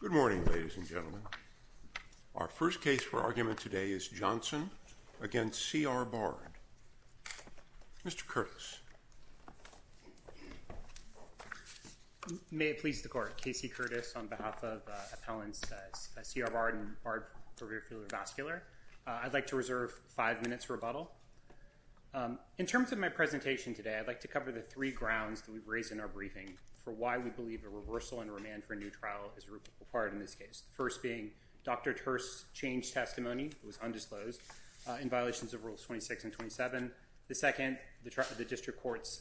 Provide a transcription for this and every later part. Good morning, ladies and gentlemen. Our first case for argument today is Johnson v. C. R. Bard. Mr. Curtis. May it please the Court. Casey Curtis on behalf of appellants C. R. Bard and Bard for rear-fielder vascular. I'd like to reserve five minutes for rebuttal. In terms of my presentation today, I'd like to cover the three grounds that we've raised in our briefing for why we believe a reversal and remand for a new trial is required in this case. The first being Dr. Terse's changed testimony, it was undisclosed, in violations of Rules 26 and 27. The second, the district court's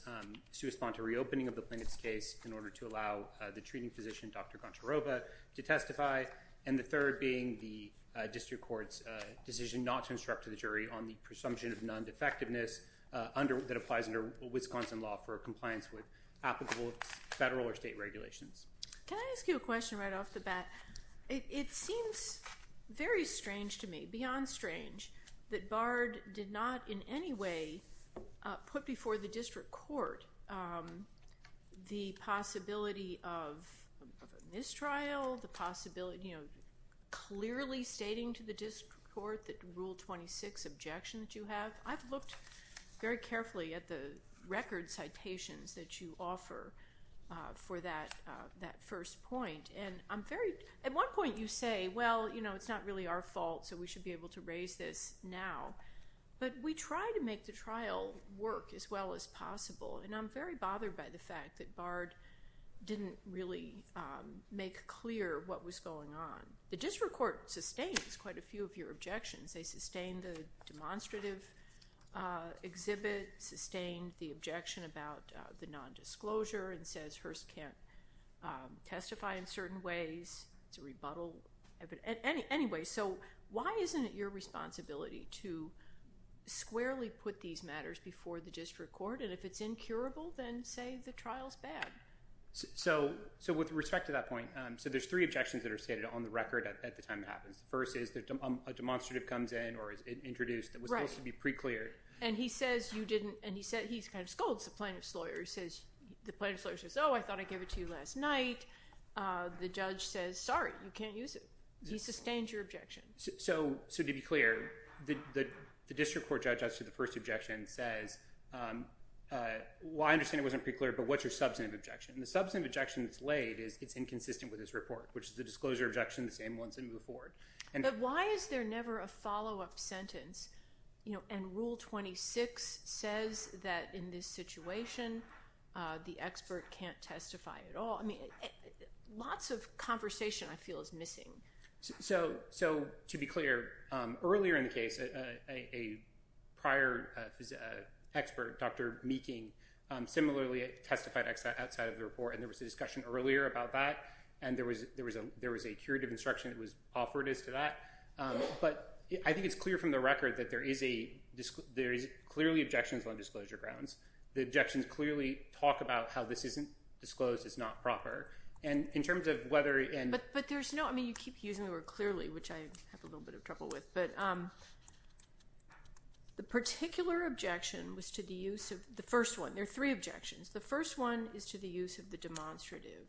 suesponse to reopening of the plaintiff's case in order to allow the treating physician, Dr. Goncharova, to testify. And the third being the district court's decision not to instruct to the jury on the presumption of non-defectiveness that applies under Wisconsin law for compliance with applicable federal or state regulations. Can I ask you a question right off the bat? It seems very strange to me, beyond strange, that Bard did not in any way put before the district court the possibility of a mistrial, you know, clearly stating to the district court that Rule 26 objection that you have. I've looked very carefully at the record citations that you offer for that first point, and I'm very, at one point you say, well, you know, it's not really our fault, so we should be able to raise this now. But we try to make the trial work as well as possible, and I'm very bothered by the fact that Bard didn't really make clear what was going on. The district court sustains quite a few of your objections. They sustained the demonstrative exhibit, sustained the objection about the nondisclosure, and says Hearst can't testify in certain ways. It's a rebuttal. Anyway, so why isn't it your responsibility to squarely put these matters before the district court? And if it's incurable, then say the trial's bad. So with respect to that point, so there's three objections that are stated on the record at the time it happens. The first is a demonstrative comes in or is introduced that was supposed to be pre-cleared. And he says you didn't, and he kind of scolds the plaintiff's lawyer. He says, the plaintiff's lawyer says, oh, I thought I gave it to you last night. The judge says, sorry, you can't use it. He sustains your objection. So to be clear, the district court judge, actually, the first objection says, well, I understand it wasn't pre-cleared, but what's your substantive objection? And the substantive objection that's laid is it's inconsistent with this report, which is the disclosure objection, the same ones that move forward. But why is there never a follow-up sentence? And Rule 26 says that in this situation, the expert can't testify at all. I mean, lots of conversation, I feel, is missing. So to be clear, earlier in the case, a prior expert, Dr. Meeking, similarly testified outside of the report. And there was a discussion earlier about that. And there was a curative instruction that was offered as to that. But I think it's clear from the record that there is clearly objections on disclosure grounds. The objections clearly talk about how this isn't disclosed. It's not proper. And in terms of whether and— But there's no—I mean, you keep using the word clearly, which I have a little bit of trouble with. But the particular objection was to the use of—the first one. There are three objections. The first one is to the use of the demonstrative.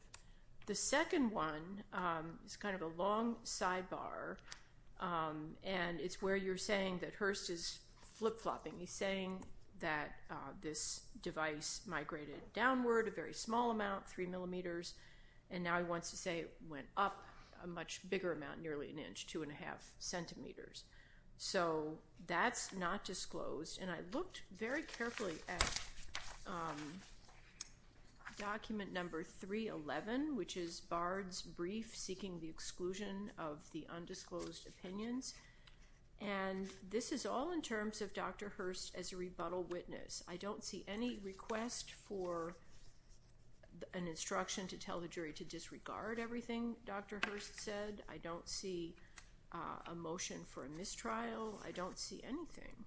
The second one is kind of a long sidebar. And it's where you're saying that Hearst is flip-flopping. He's saying that this device migrated downward a very small amount, three millimeters. And now he wants to say it went up a much bigger amount, nearly an inch, two and a half centimeters. So that's not disclosed. And I looked very carefully at document number 311, which is Bard's brief seeking the exclusion of the undisclosed opinions. And this is all in terms of Dr. Hearst as a rebuttal witness. I don't see any request for an instruction to tell the jury to disregard everything Dr. Hearst said. I don't see a motion for a mistrial. I don't see anything.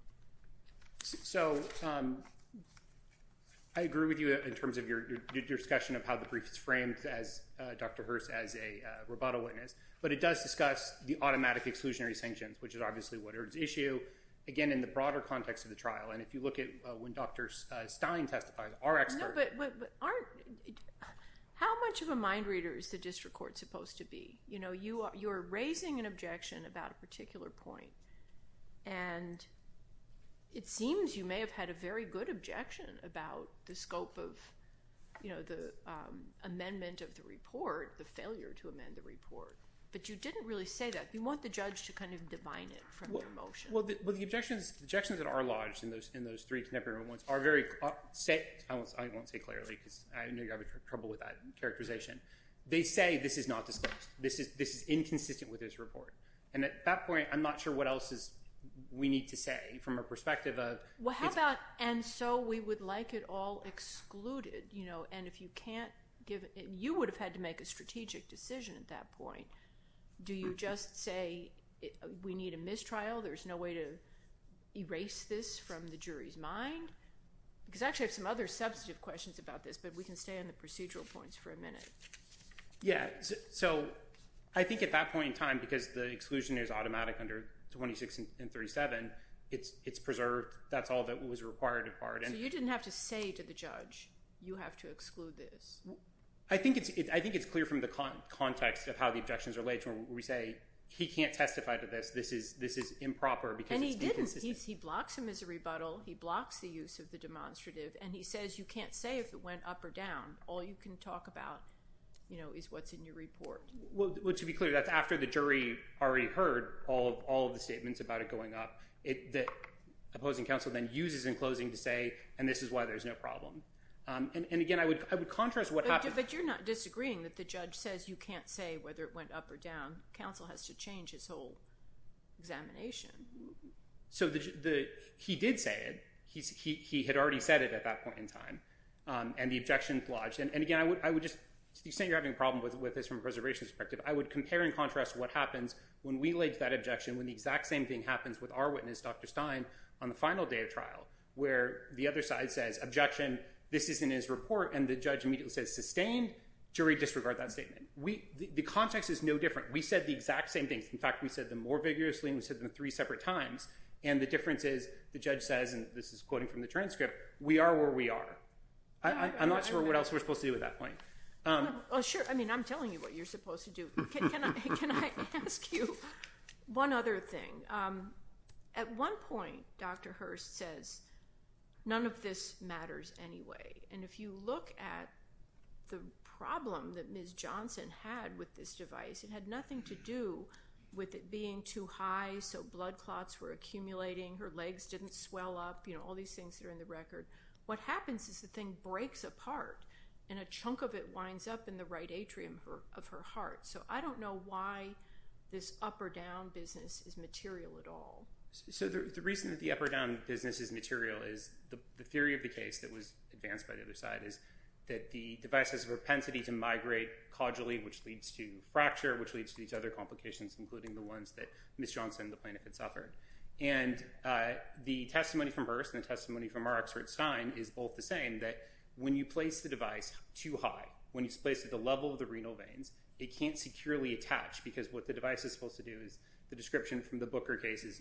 So I agree with you in terms of your discussion of how the brief is framed as Dr. Hearst as a rebuttal witness. But it does discuss the automatic exclusionary sanctions, which is obviously what is at issue, again, in the broader context of the trial. And if you look at when Dr. Stein testifies, our expert— How much of a mind reader is the district court supposed to be? You know, you are raising an objection about a particular point. And it seems you may have had a very good objection about the scope of the amendment of the report, the failure to amend the report. But you didn't really say that. You want the judge to kind of divine it from your motion. Well, the objections that are lodged in those three contemporary moments are very—I won't say clearly because I know you're having trouble with that characterization. They say this is not disclosed. This is inconsistent with this report. And at that point, I'm not sure what else is—we need to say from a perspective of— Well, how about, and so we would like it all excluded, you know, and if you can't give—you would have had to make a strategic decision at that point. Do you just say we need a mistrial? There's no way to erase this from the jury's mind? Because actually I have some other substantive questions about this, but we can stay on the procedural points for a minute. Yeah. So I think at that point in time, because the exclusion is automatic under 26 and 37, it's preserved. That's all that was required of part. So you didn't have to say to the judge, you have to exclude this? I think it's clear from the context of how the objections are laid to him where we say, he can't testify to this. This is improper because it's inconsistent. And he didn't. He blocks him as a rebuttal. He blocks the use of the demonstrative. And he says, you can't say if it went up or down. All you can talk about, you know, is what's in your report. Well, to be clear, that's after the jury already heard all of the statements about it going up. The opposing counsel then uses in closing to say, and this is why there's no problem. And again, I would contrast what happened— But you're not disagreeing that the judge says you can't say whether it went up or down. Counsel has to change his whole examination. So he did say it. He had already said it at that point in time. And the objections lodged. And again, I would just—to the extent you're having a problem with this from a preservation perspective, I would compare and contrast what happens when we laid that objection when the exact same thing happens with our witness, Dr. Stein, on the final day of trial, where the other side says, objection, this isn't in his report. And the judge immediately says, sustained. Jury disregarded that statement. The context is no different. We said the exact same thing. In fact, we said them more vigorously and we said them three separate times. And the difference is, the judge says, and this is quoting from the transcript, we are where we are. I'm not sure what else we're supposed to do at that point. Well, sure. I mean, I'm telling you what you're supposed to do. Can I ask you one other thing? At one point, Dr. Hurst says, none of this matters anyway. And if you look at the problem that Ms. Johnson had with this device, it had nothing to do with it being too high, so blood clots were accumulating, her legs didn't swell up, you know, all these things that are in the record. What happens is the thing breaks apart and a chunk of it winds up in the right atrium of her heart. So I don't know why this up or down business is material at all. So the reason that the up or down business is material is, the theory of the case that was advanced by the other side is that the device has a propensity to migrate caudally, which leads to fracture, which leads to these other complications, including the ones that Ms. Johnson, the plaintiff, had suffered. And the testimony from Hurst and the testimony from our expert, Stein, is both the same, that when you place the device too high, when it's placed at the level of the renal veins, it can't securely attach, because what the device is supposed to do is, the description from the Booker case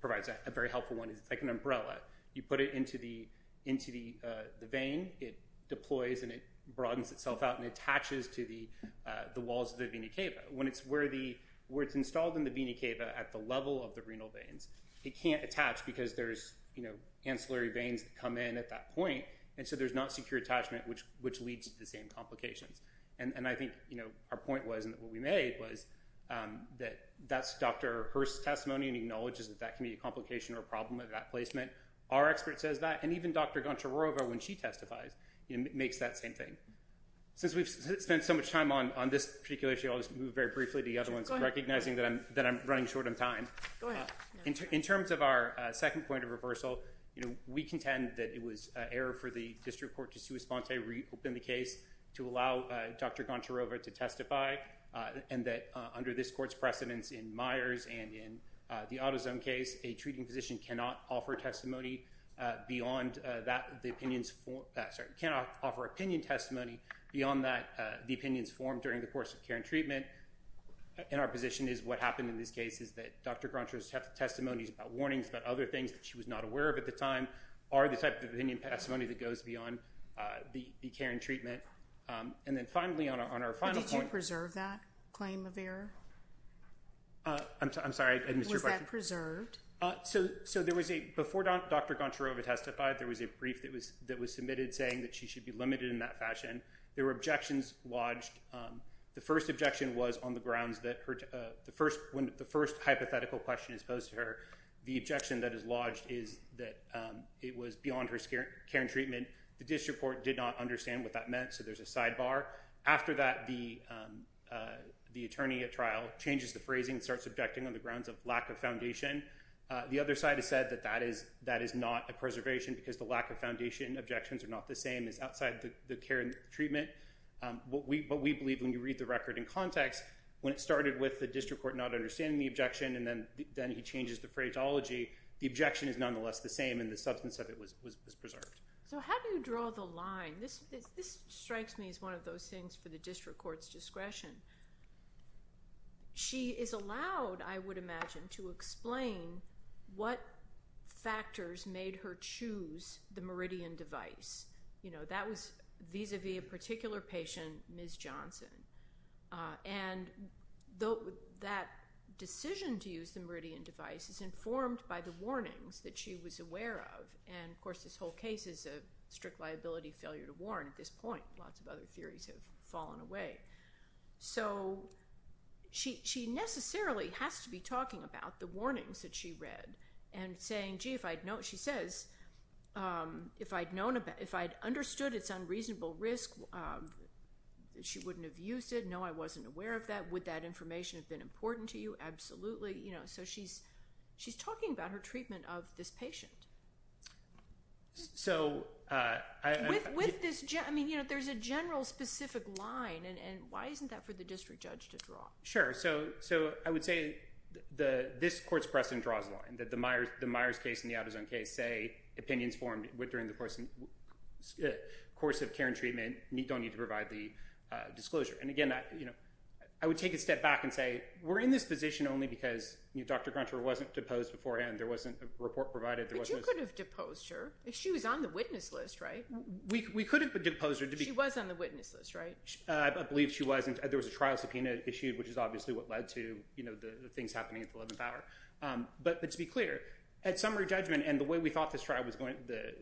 provides a very helpful one, it's like an umbrella. You put it into the vein, it deploys and it broadens itself out and attaches to the walls of the vena cava. When it's where it's installed in the vena cava at the level of the renal veins, it can't attach because there's, you know, ancillary veins that come in at that point, and so there's not secure attachment, which leads to the same complications. And I think, you know, our point was, and what we made was that that's Dr. Hurst's testimony and acknowledges that that can be a complication or problem of that placement. Our expert says that, and even Dr. Goncharova, when she testifies, makes that same thing. Since we've spent so much time on this particular issue, I'll just move very briefly to the other ones, recognizing that I'm running short on time. In terms of our second point of reversal, you know, we contend that it was error for the District Court to sui sponte, reopen the case, to allow Dr. Goncharova to testify, and that under this Court's precedence in Myers and in the AutoZone case, a treating physician cannot offer testimony beyond that, the opinions, sorry, cannot offer opinion testimony beyond that the opinions formed during the course of care and treatment. And our position is what happened in this case is that Dr. Goncharova's testimonies about warnings, about other things that she was not aware of at the time, are the type of opinion testimony that goes beyond the care and treatment. And then finally, on our final point— —claim of error? I'm sorry, I missed your question. Was that preserved? So there was a—before Dr. Goncharova testified, there was a brief that was submitted saying that she should be limited in that fashion. There were objections lodged. The first objection was on the grounds that when the first hypothetical question is posed to her, the objection that is lodged is that it was beyond her care and treatment. The District Court did not understand what that meant, so there's a sidebar. After that, the attorney at trial changes the phrasing and starts objecting on the grounds of lack of foundation. The other side has said that is not a preservation because the lack of foundation objections are not the same as outside the care and treatment. What we believe, when you read the record in context, when it started with the District Court not understanding the objection and then he changes the phraseology, the objection is nonetheless the same and the substance of it was preserved. So how do you draw the line? This strikes me as one of those things for the District Court's discretion. She is allowed, I would imagine, to explain what factors made her choose the Meridian device. You know, that was vis-a-vis a particular patient, Ms. Johnson. And that decision to use the Meridian device is informed by the warnings that she was aware of. And of course, this whole case is a strict liability failure to warn at this point. Lots of other theories have fallen away. So she necessarily has to be talking about the warnings that she read and saying, gee, if I'd known, she says, if I'd understood its unreasonable risk, she wouldn't have used it. No, I wasn't aware of that. Would that information have been important to you? Absolutely. You know, so she's talking about her treatment of this patient. So I... With this... I mean, you know, there's a general specific line and why isn't that for the district judge to draw? Sure. So I would say this court's precedent draws the line, that the Myers case and the out-of-zone case say opinions formed during the course of care and treatment don't need to provide the disclosure. And again, I would take a step back and say, we're in this position only because, you know, Dr. Gruncher wasn't deposed beforehand. There wasn't a report provided. But you could have deposed her. She was on the witness list, right? We could have deposed her to be... She was on the witness list, right? I believe she was. And there was a trial subpoena issued, which is obviously what led to, you know, the things happening at the 11th hour. But to be clear, at summary judgment and the way we thought this trial was going, the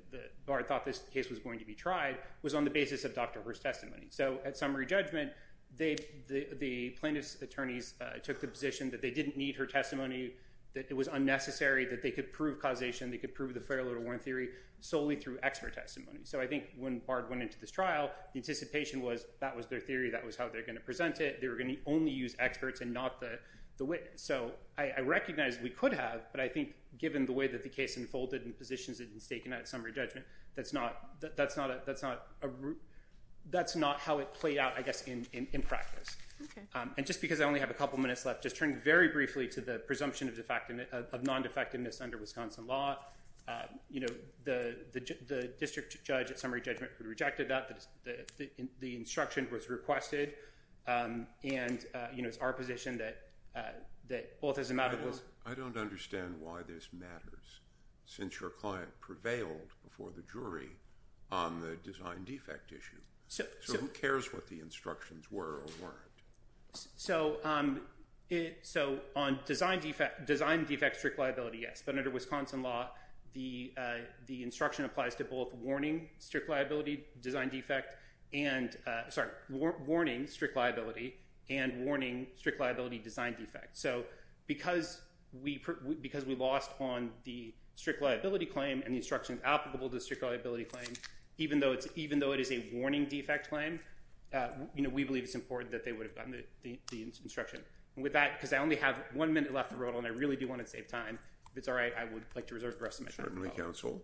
bar thought this case was going to be tried, was on the basis of Dr. Hurst's testimony. So at summary judgment, the plaintiff's position that they didn't need her testimony, that it was unnecessary, that they could prove causation, they could prove the fair little warrant theory solely through expert testimony. So I think when Bard went into this trial, the anticipation was, that was their theory, that was how they're going to present it. They were going to only use experts and not the witness. So I recognize we could have, but I think given the way that the case unfolded and the positions that have been taken at summary judgment, that's not how it played out, I guess, in practice. And just because I only have a couple minutes left, just turn very briefly to the presumption of non-defectiveness under Wisconsin law. You know, the district judge at summary judgment rejected that. The instruction was requested. And, you know, it's our position that, well, it doesn't matter who's... I don't understand why this matters, since your client prevailed before the jury on the design defect issue. So who cares what the instructions were or weren't? So on design defect strict liability, yes. But under Wisconsin law, the instruction applies to both warning strict liability design defect and, sorry, warning strict liability and warning strict liability design defect. So because we lost on the strict liability claim and the instructions applicable to the strict liability claim, even though it is a warning defect claim, you know, we believe it's important that they would have gotten the instruction. With that, because I only have one minute left to roll, and I really do want to save time, if it's all right, I would like to reserve the rest of my time. Certainly, counsel.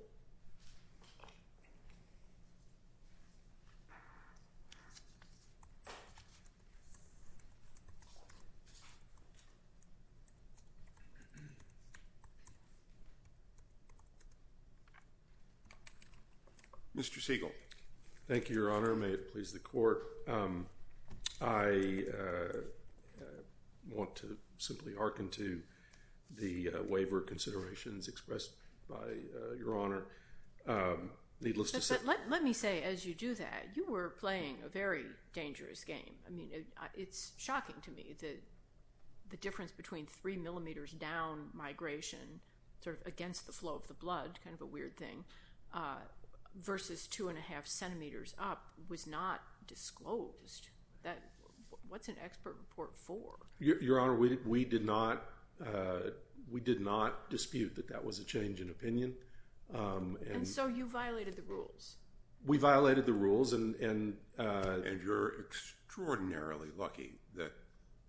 Mr. Siegel. Thank you, Your Honor. May it please the court. I want to simply hearken to the waiver considerations expressed by Your Honor. Needless to say... But let me say, as you do that, you were playing a very dangerous game. I mean, it's shocking to me that the difference between three millimeters down migration, sort of against the flow of everything, versus two and a half centimeters up was not disclosed. What's an expert report for? Your Honor, we did not dispute that that was a change in opinion. And so you violated the rules. We violated the rules and... And you're extraordinarily lucky that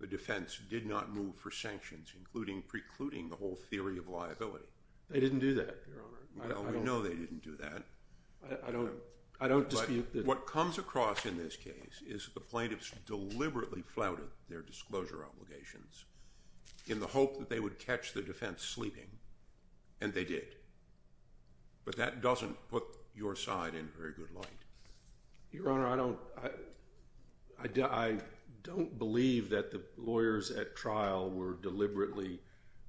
the defense did not move for sanctions, including precluding the whole theory of liability. They didn't do that, Your Honor. Well, we know they didn't do that. I don't dispute that... But what comes across in this case is the plaintiffs deliberately flouted their disclosure obligations in the hope that they would catch the defense sleeping, and they did. But that doesn't put your side in very good light. Your Honor, I don't believe that the lawyers at trial were deliberately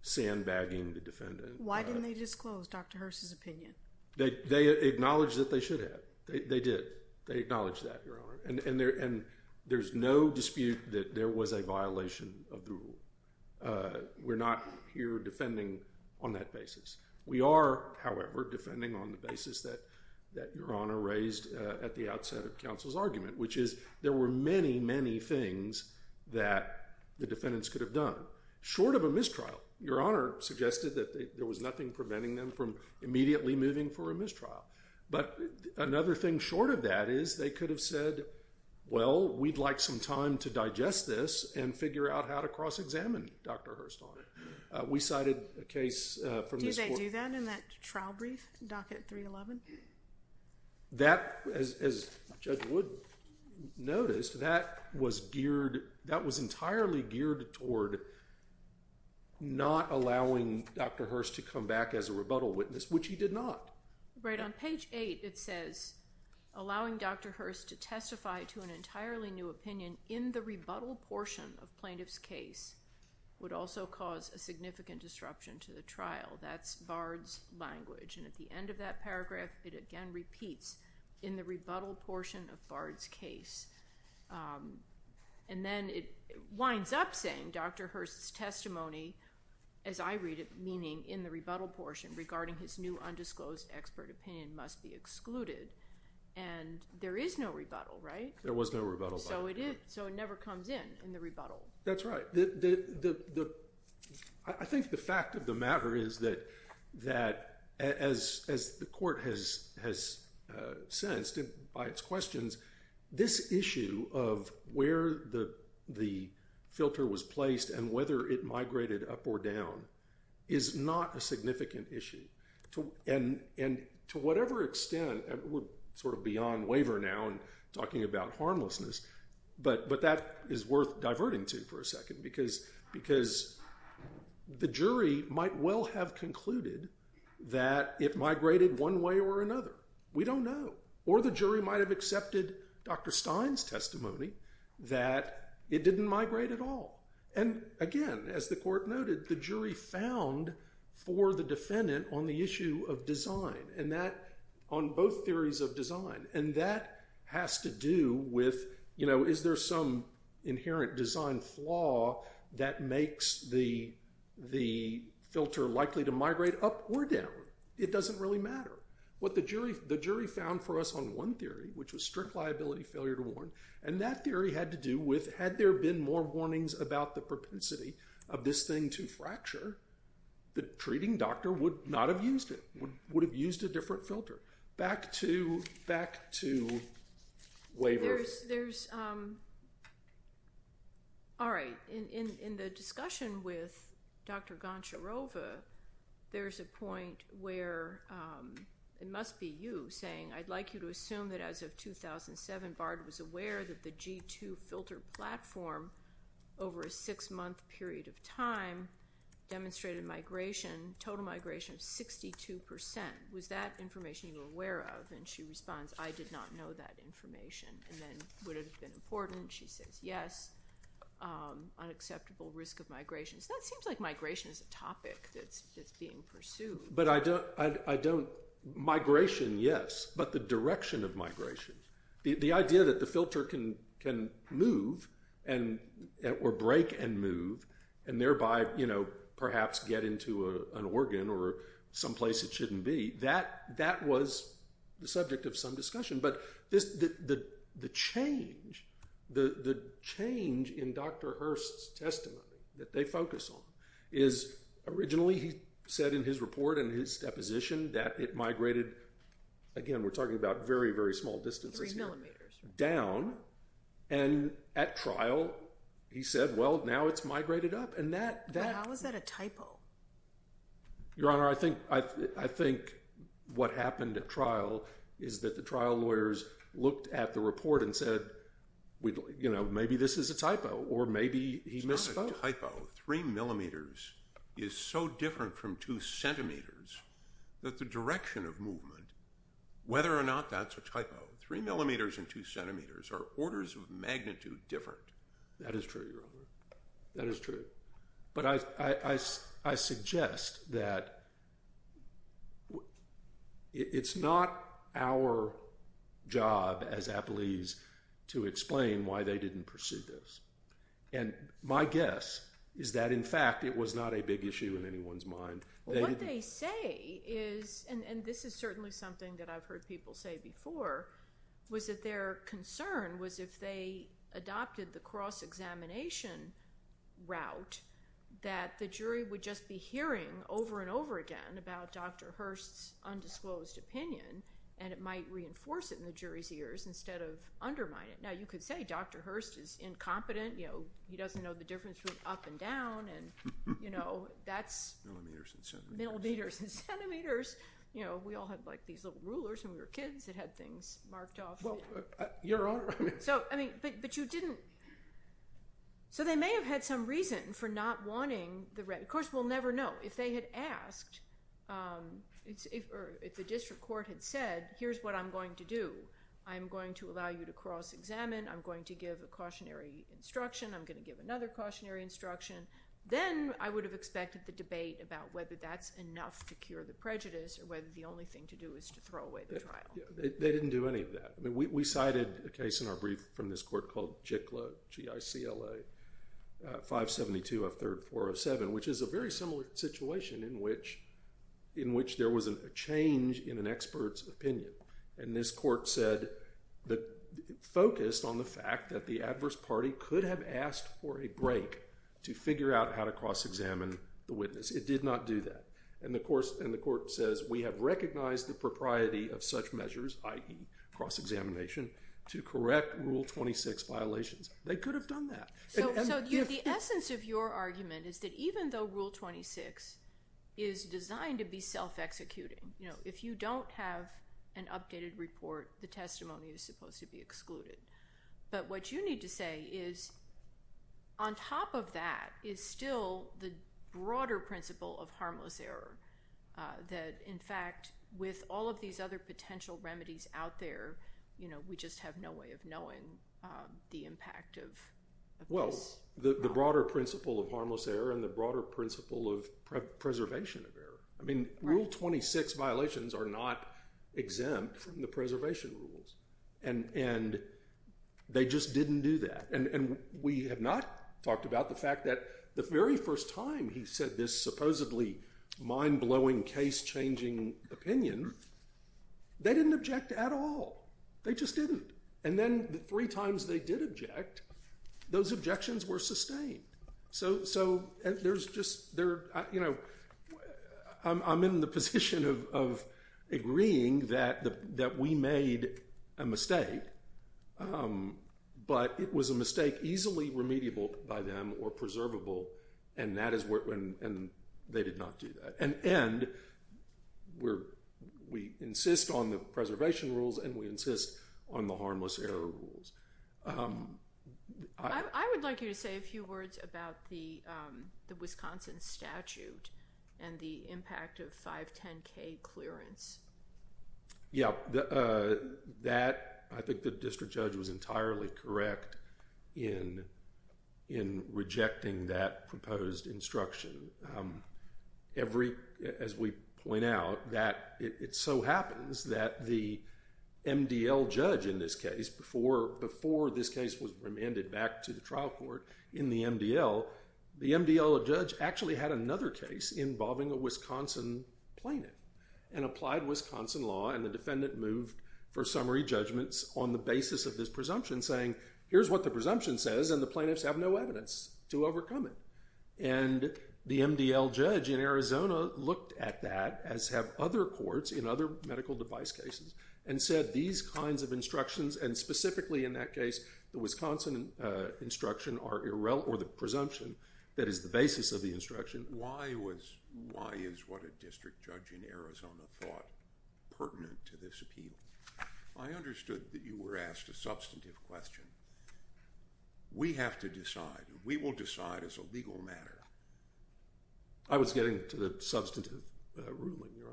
sandbagging the defendant. Why didn't they disclose Dr. Hearst's opinion? They acknowledged that they should have. They did. They acknowledged that, Your Honor. And there's no dispute that there was a violation of the rule. We're not here defending on that basis. We are, however, defending on the basis that Your Honor raised at the outset of counsel's argument, which is there were many, many things that the defendants could have done. Short of a mistrial, Your Honor suggested that there was nothing preventing them from immediately moving for a mistrial. But another thing short of that is they could have said, well, we'd like some time to digest this and figure out how to cross-examine Dr. Hearst on it. We cited a case from this court... Did they do that in that trial brief, Docket 311? That, as Judge Wood noticed, that was geared, that was entirely geared toward not allowing Dr. Hearst to come back as a rebuttal witness, which he did not. Right. On page 8 it says, allowing Dr. Hearst to testify to an entirely new opinion in the rebuttal portion of plaintiff's case would also cause a significant disruption to the court. It again repeats, in the rebuttal portion of Bard's case. And then it winds up saying, Dr. Hearst's testimony, as I read it, meaning in the rebuttal portion, regarding his new undisclosed expert opinion must be excluded. And there is no rebuttal, right? There was no rebuttal. So it never comes in, in the rebuttal. That's right. I think the fact of the matter is that, as the court has sensed by its questions, this issue of where the filter was placed and whether it migrated up or down is not a significant issue. And to whatever extent, we're sort of beyond waiver now and talking about harmlessness. But that is worth diverting to for a second, because the jury might well have concluded that it migrated one way or another. We don't know. Or the jury might have accepted Dr. Stein's testimony that it didn't migrate at all. And again, as the court noted, the jury found for the defendant on the issue of design, on both theories of what to do with, is there some inherent design flaw that makes the filter likely to migrate up or down? It doesn't really matter. What the jury found for us on one theory, which was strict liability failure to warn, and that theory had to do with, had there been more warnings about the propensity of this thing to fracture, the treating doctor would not have used it, would have used a waiver. All right. In the discussion with Dr. Goncharova, there's a point where it must be you saying, I'd like you to assume that as of 2007, Bard was aware that the G2 filter platform over a six-month period of time demonstrated migration, total migration of 62%. Was that information you were aware of? And she responds, I did not know that information. And then, would it have been important? She says, yes. Unacceptable risk of migration. So that seems like migration is a topic that's being pursued. But I don't, migration, yes. But the direction of migration. The idea that the filter can move, or break and move, and thereby perhaps get into an organ or someplace it shouldn't be, that was the subject of some discussion. But the change in Dr. Hurst's testimony that they focus on is, originally he said in his report and his deposition that it migrated, again, we're talking about very, very small distances here, down. And at trial, he said, well, now it's migrated up. How is that a typo? Your Honor, I think what happened at trial is that the trial lawyers looked at the report and said, maybe this is a typo, or maybe he misspoke. It's not a typo. 3 millimeters is so different from 2 centimeters that the direction of movement, whether or not that's a typo, 3 millimeters and 2 centimeters are orders of magnitude different. That is true, Your Honor. That is true. But I suggest that it's not our job as appellees to explain why they didn't pursue this. And my guess is that, in fact, it was not a big issue in anyone's mind. What they say is, and this is certainly something that I've heard people say before, was that their concern was if they adopted the cross-examination route, that the jury would just be hearing over and over again about Dr. Hurst's undisclosed opinion, and it might reinforce it in the jury's ears instead of undermine it. Now, you could say Dr. Hurst is incompetent. He doesn't know the difference between up and down. Millimeters and centimeters. Millimeters and centimeters. We all had these little rulers when we were kids that had things marked off. Well, Your Honor, I mean... So, I mean, but you didn't... So they may have had some reason for not wanting the... Of course, we'll never know. If they had asked, or if the district court had said, here's what I'm going to do. I'm going to allow you to cross-examine. I'm going to give a cautionary instruction. I'm going to give another cautionary instruction. Then I would have expected the debate about whether that's enough to cure the prejudice or whether the only thing to do is to throw away the trial. They didn't do any of that. I mean, we cited a case in our brief from this court called Jikla, G-I-C-L-A, 572F3-407, which is a very similar situation in which there was a change in an expert's opinion. And this court said that it focused on the fact that the adverse party could have asked for a break to figure out how to cross-examine the witness. It did not do that. And the court says, we have recognized the propriety of such measures, i.e. cross-examination, to correct Rule 26 violations. They could have done that. So the essence of your argument is that even though Rule 26 is designed to be self-executing, if you don't have an updated report, the testimony is supposed to be excluded. But what you need to say is, on top of that, is still the broader principle of harmless error. That, in fact, with all of these other potential remedies out there, we just have no way of knowing the impact of this. Well, the broader principle of harmless error and the broader principle of preservation of error. I mean, Rule 26 violations are not exempt from the preservation rules. And they just didn't do that. And we have not talked about the fact that the very first time he said this supposedly mind-blowing, case-changing opinion, they didn't object at all. They just didn't. And then the three times they did object, those objections were sustained. So I'm in the position of agreeing that we made a mistake. But it was a mistake easily remediable by them or preservable, and they did not do that. And we insist on the preservation rules, and we insist on the harmless error rules. I would like you to say a few words about the Wisconsin statute and the impact of 510K clearance. Yeah. I think the district judge was entirely correct in rejecting that proposed instruction. As we point out, it so happens that the MDL judge in this case, before this case was remanded back to the trial court in the MDL, the MDL judge actually had another case involving a Wisconsin plaintiff and applied Wisconsin law. And the defendant moved for summary judgments on the basis of this presumption, saying, here's what the presumption says, and the plaintiffs have no evidence to overcome it. And the MDL judge in Arizona looked at that, as have other courts in other medical device cases, and said these kinds of instructions, and specifically in that case, the Wisconsin instruction or the presumption that is the basis of the instruction. Why is what a district judge in Arizona thought pertinent to this appeal? I understood that you were asked a substantive question. We have to decide. We will decide as a legal matter. I was getting to the substantive ruling, Your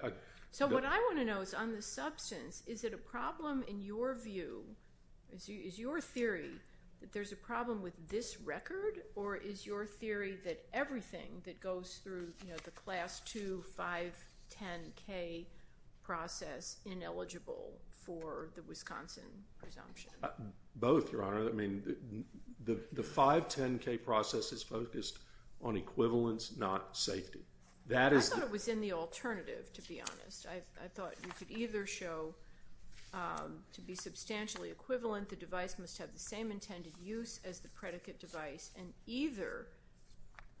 Honor. So what I want to know is on the substance, is it a problem in your view, is your theory that there's a problem with this record, or is your theory that everything that goes through the Class II 510K process ineligible for the Wisconsin presumption? Both, Your Honor. I mean, the 510K process is focused on equivalence, not safety. I thought it was in the alternative, to be honest. I thought you could either show to be substantially equivalent, the device must have the same intended use as the predicate device, and either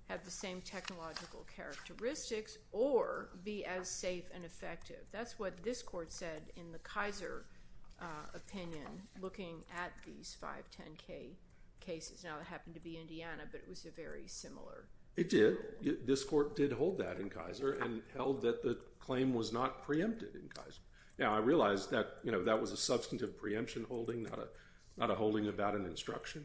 have the same technological characteristics or be as safe and effective. That's what this Court said in the Kaiser opinion, looking at these 510K cases. Now, it happened to be Indiana, but it was very similar. It did. This Court did hold that in Kaiser and held that the claim was not preempted in Kaiser. Now, I realize that was a substantive preemption holding, not a holding about an instruction.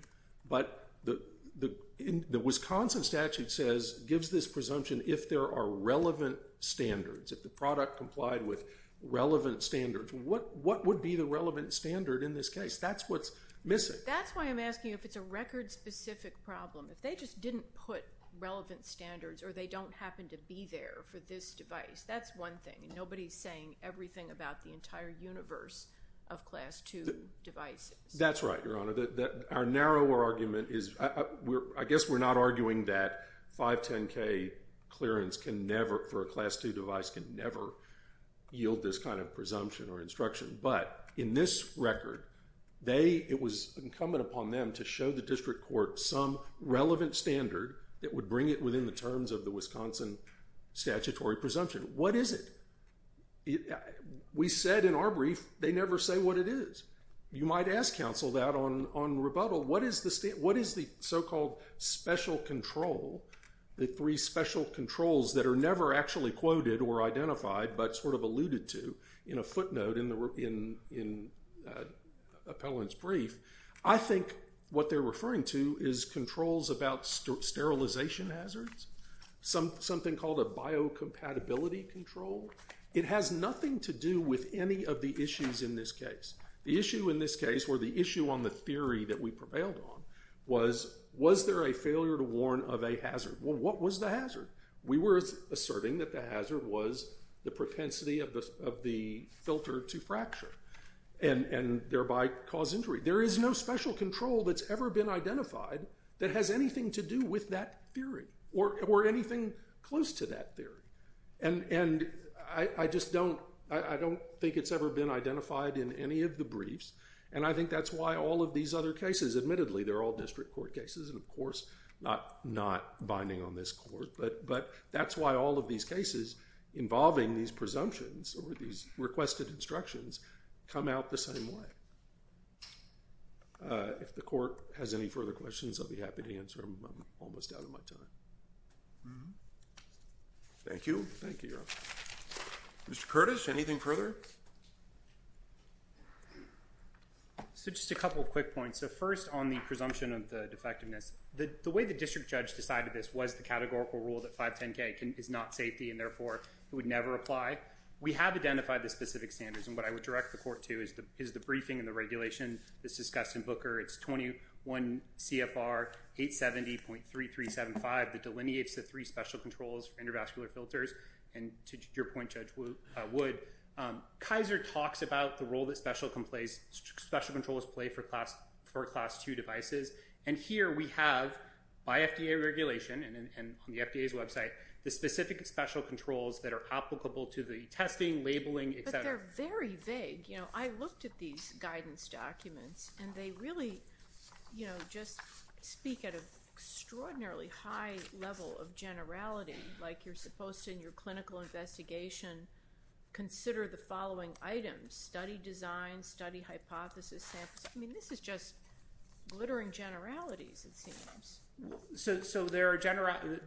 But the Wisconsin statute gives this presumption if there are relevant standards, if the product complied with relevant standards. What would be the relevant standard in this case? That's what's missing. That's why I'm asking if it's a record-specific problem. If they just didn't put relevant standards or they don't happen to be there for this device, that's one thing. Nobody's saying everything about the entire universe of Class II devices. That's right, Your Honor. Our narrower argument is I guess we're not arguing that 510K clearance for a Class II device can never yield this kind of presumption or instruction. But in this record, it was incumbent upon them to show the district court some relevant standard that would bring it within the terms of the Wisconsin statutory presumption. What is it? We said in our brief they never say what it is. You might ask counsel that on rebuttal. What is the so-called special control, the three special controls that are never actually quoted or identified but sort of alluded to in a footnote in Appellant's brief? I think what they're referring to is controls about sterilization hazards, something called a biocompatibility control. It has nothing to do with any of the issues in this case. The issue in this case or the issue on the theory that we prevailed on was, was there a failure to warn of a hazard? Well, what was the hazard? We were asserting that the hazard was the propensity of the filter to fracture and thereby cause injury. There is no special control that's ever been identified that has anything to do with that theory or anything close to that theory. And I just don't, I don't think it's ever been identified in any of the briefs, and I think that's why all of these other cases, admittedly, they're all district court cases, and of course not binding on this court, but that's why all of these cases involving these presumptions or these requested instructions come out the same way. If the court has any further questions, I'll be happy to answer them. I'm almost out of my time. Thank you. Thank you, Your Honor. Mr. Curtis, anything further? So just a couple of quick points. So first, on the presumption of the defectiveness, the way the district judge decided this was the categorical rule that 510K is not safety and therefore it would never apply. We have identified the specific standards, and what I would direct the court to is the briefing and the regulation that's discussed in Booker. It's 21 CFR 870.3375 that delineates the three special controls for intervascular filters, and to your point, Judge Wood, Kaiser talks about the role that special controls play for Class II devices, and here we have, by FDA regulation and on the FDA's website, the specific special controls that are applicable to the testing, labeling, et cetera. But they're very vague. I looked at these guidance documents, and they really just speak at an extraordinarily high level of generality, like you're supposed to, in your clinical investigation, consider the following items, study design, study hypothesis samples. I mean, this is just glittering generalities, it seems. So the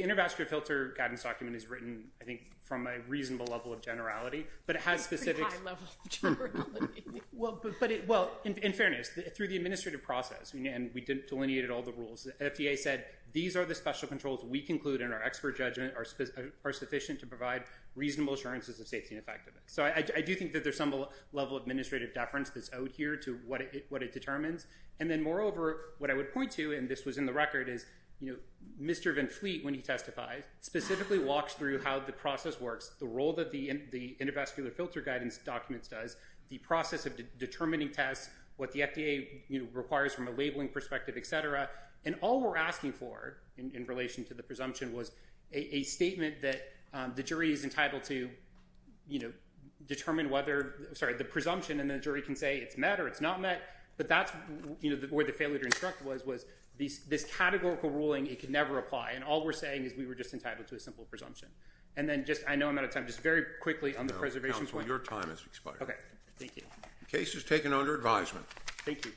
intervascular filter guidance document is written, I think, from a reasonable level of generality, but it has specifics. That's a pretty high level of generality. Well, in fairness, through the administrative process, and we delineated all the rules, FDA said these are the special controls we conclude in our expert judgment are sufficient to provide reasonable assurances of safety and effectiveness. So I do think that there's some level of administrative deference that's out here to what it determines, and then moreover, what I would point to, and this was in the record, is Mr. Van Fleet, when he testifies, specifically walks through how the process works, the role that the intervascular filter guidance documents does, the process of determining tests, what the FDA requires from a labeling perspective, et cetera, and all we're asking for in relation to the presumption was a statement that the jury is entitled to determine whether, sorry, the presumption, and the jury can say it's met or it's not met, but that's where the failure to instruct was, was this categorical ruling, it could never apply, and all we're saying is we were just entitled to a simple presumption. And then just, I know I'm out of time, just very quickly on the preservation point. No, counsel, your time has expired. Okay, thank you. The case is taken under advisement. Thank you.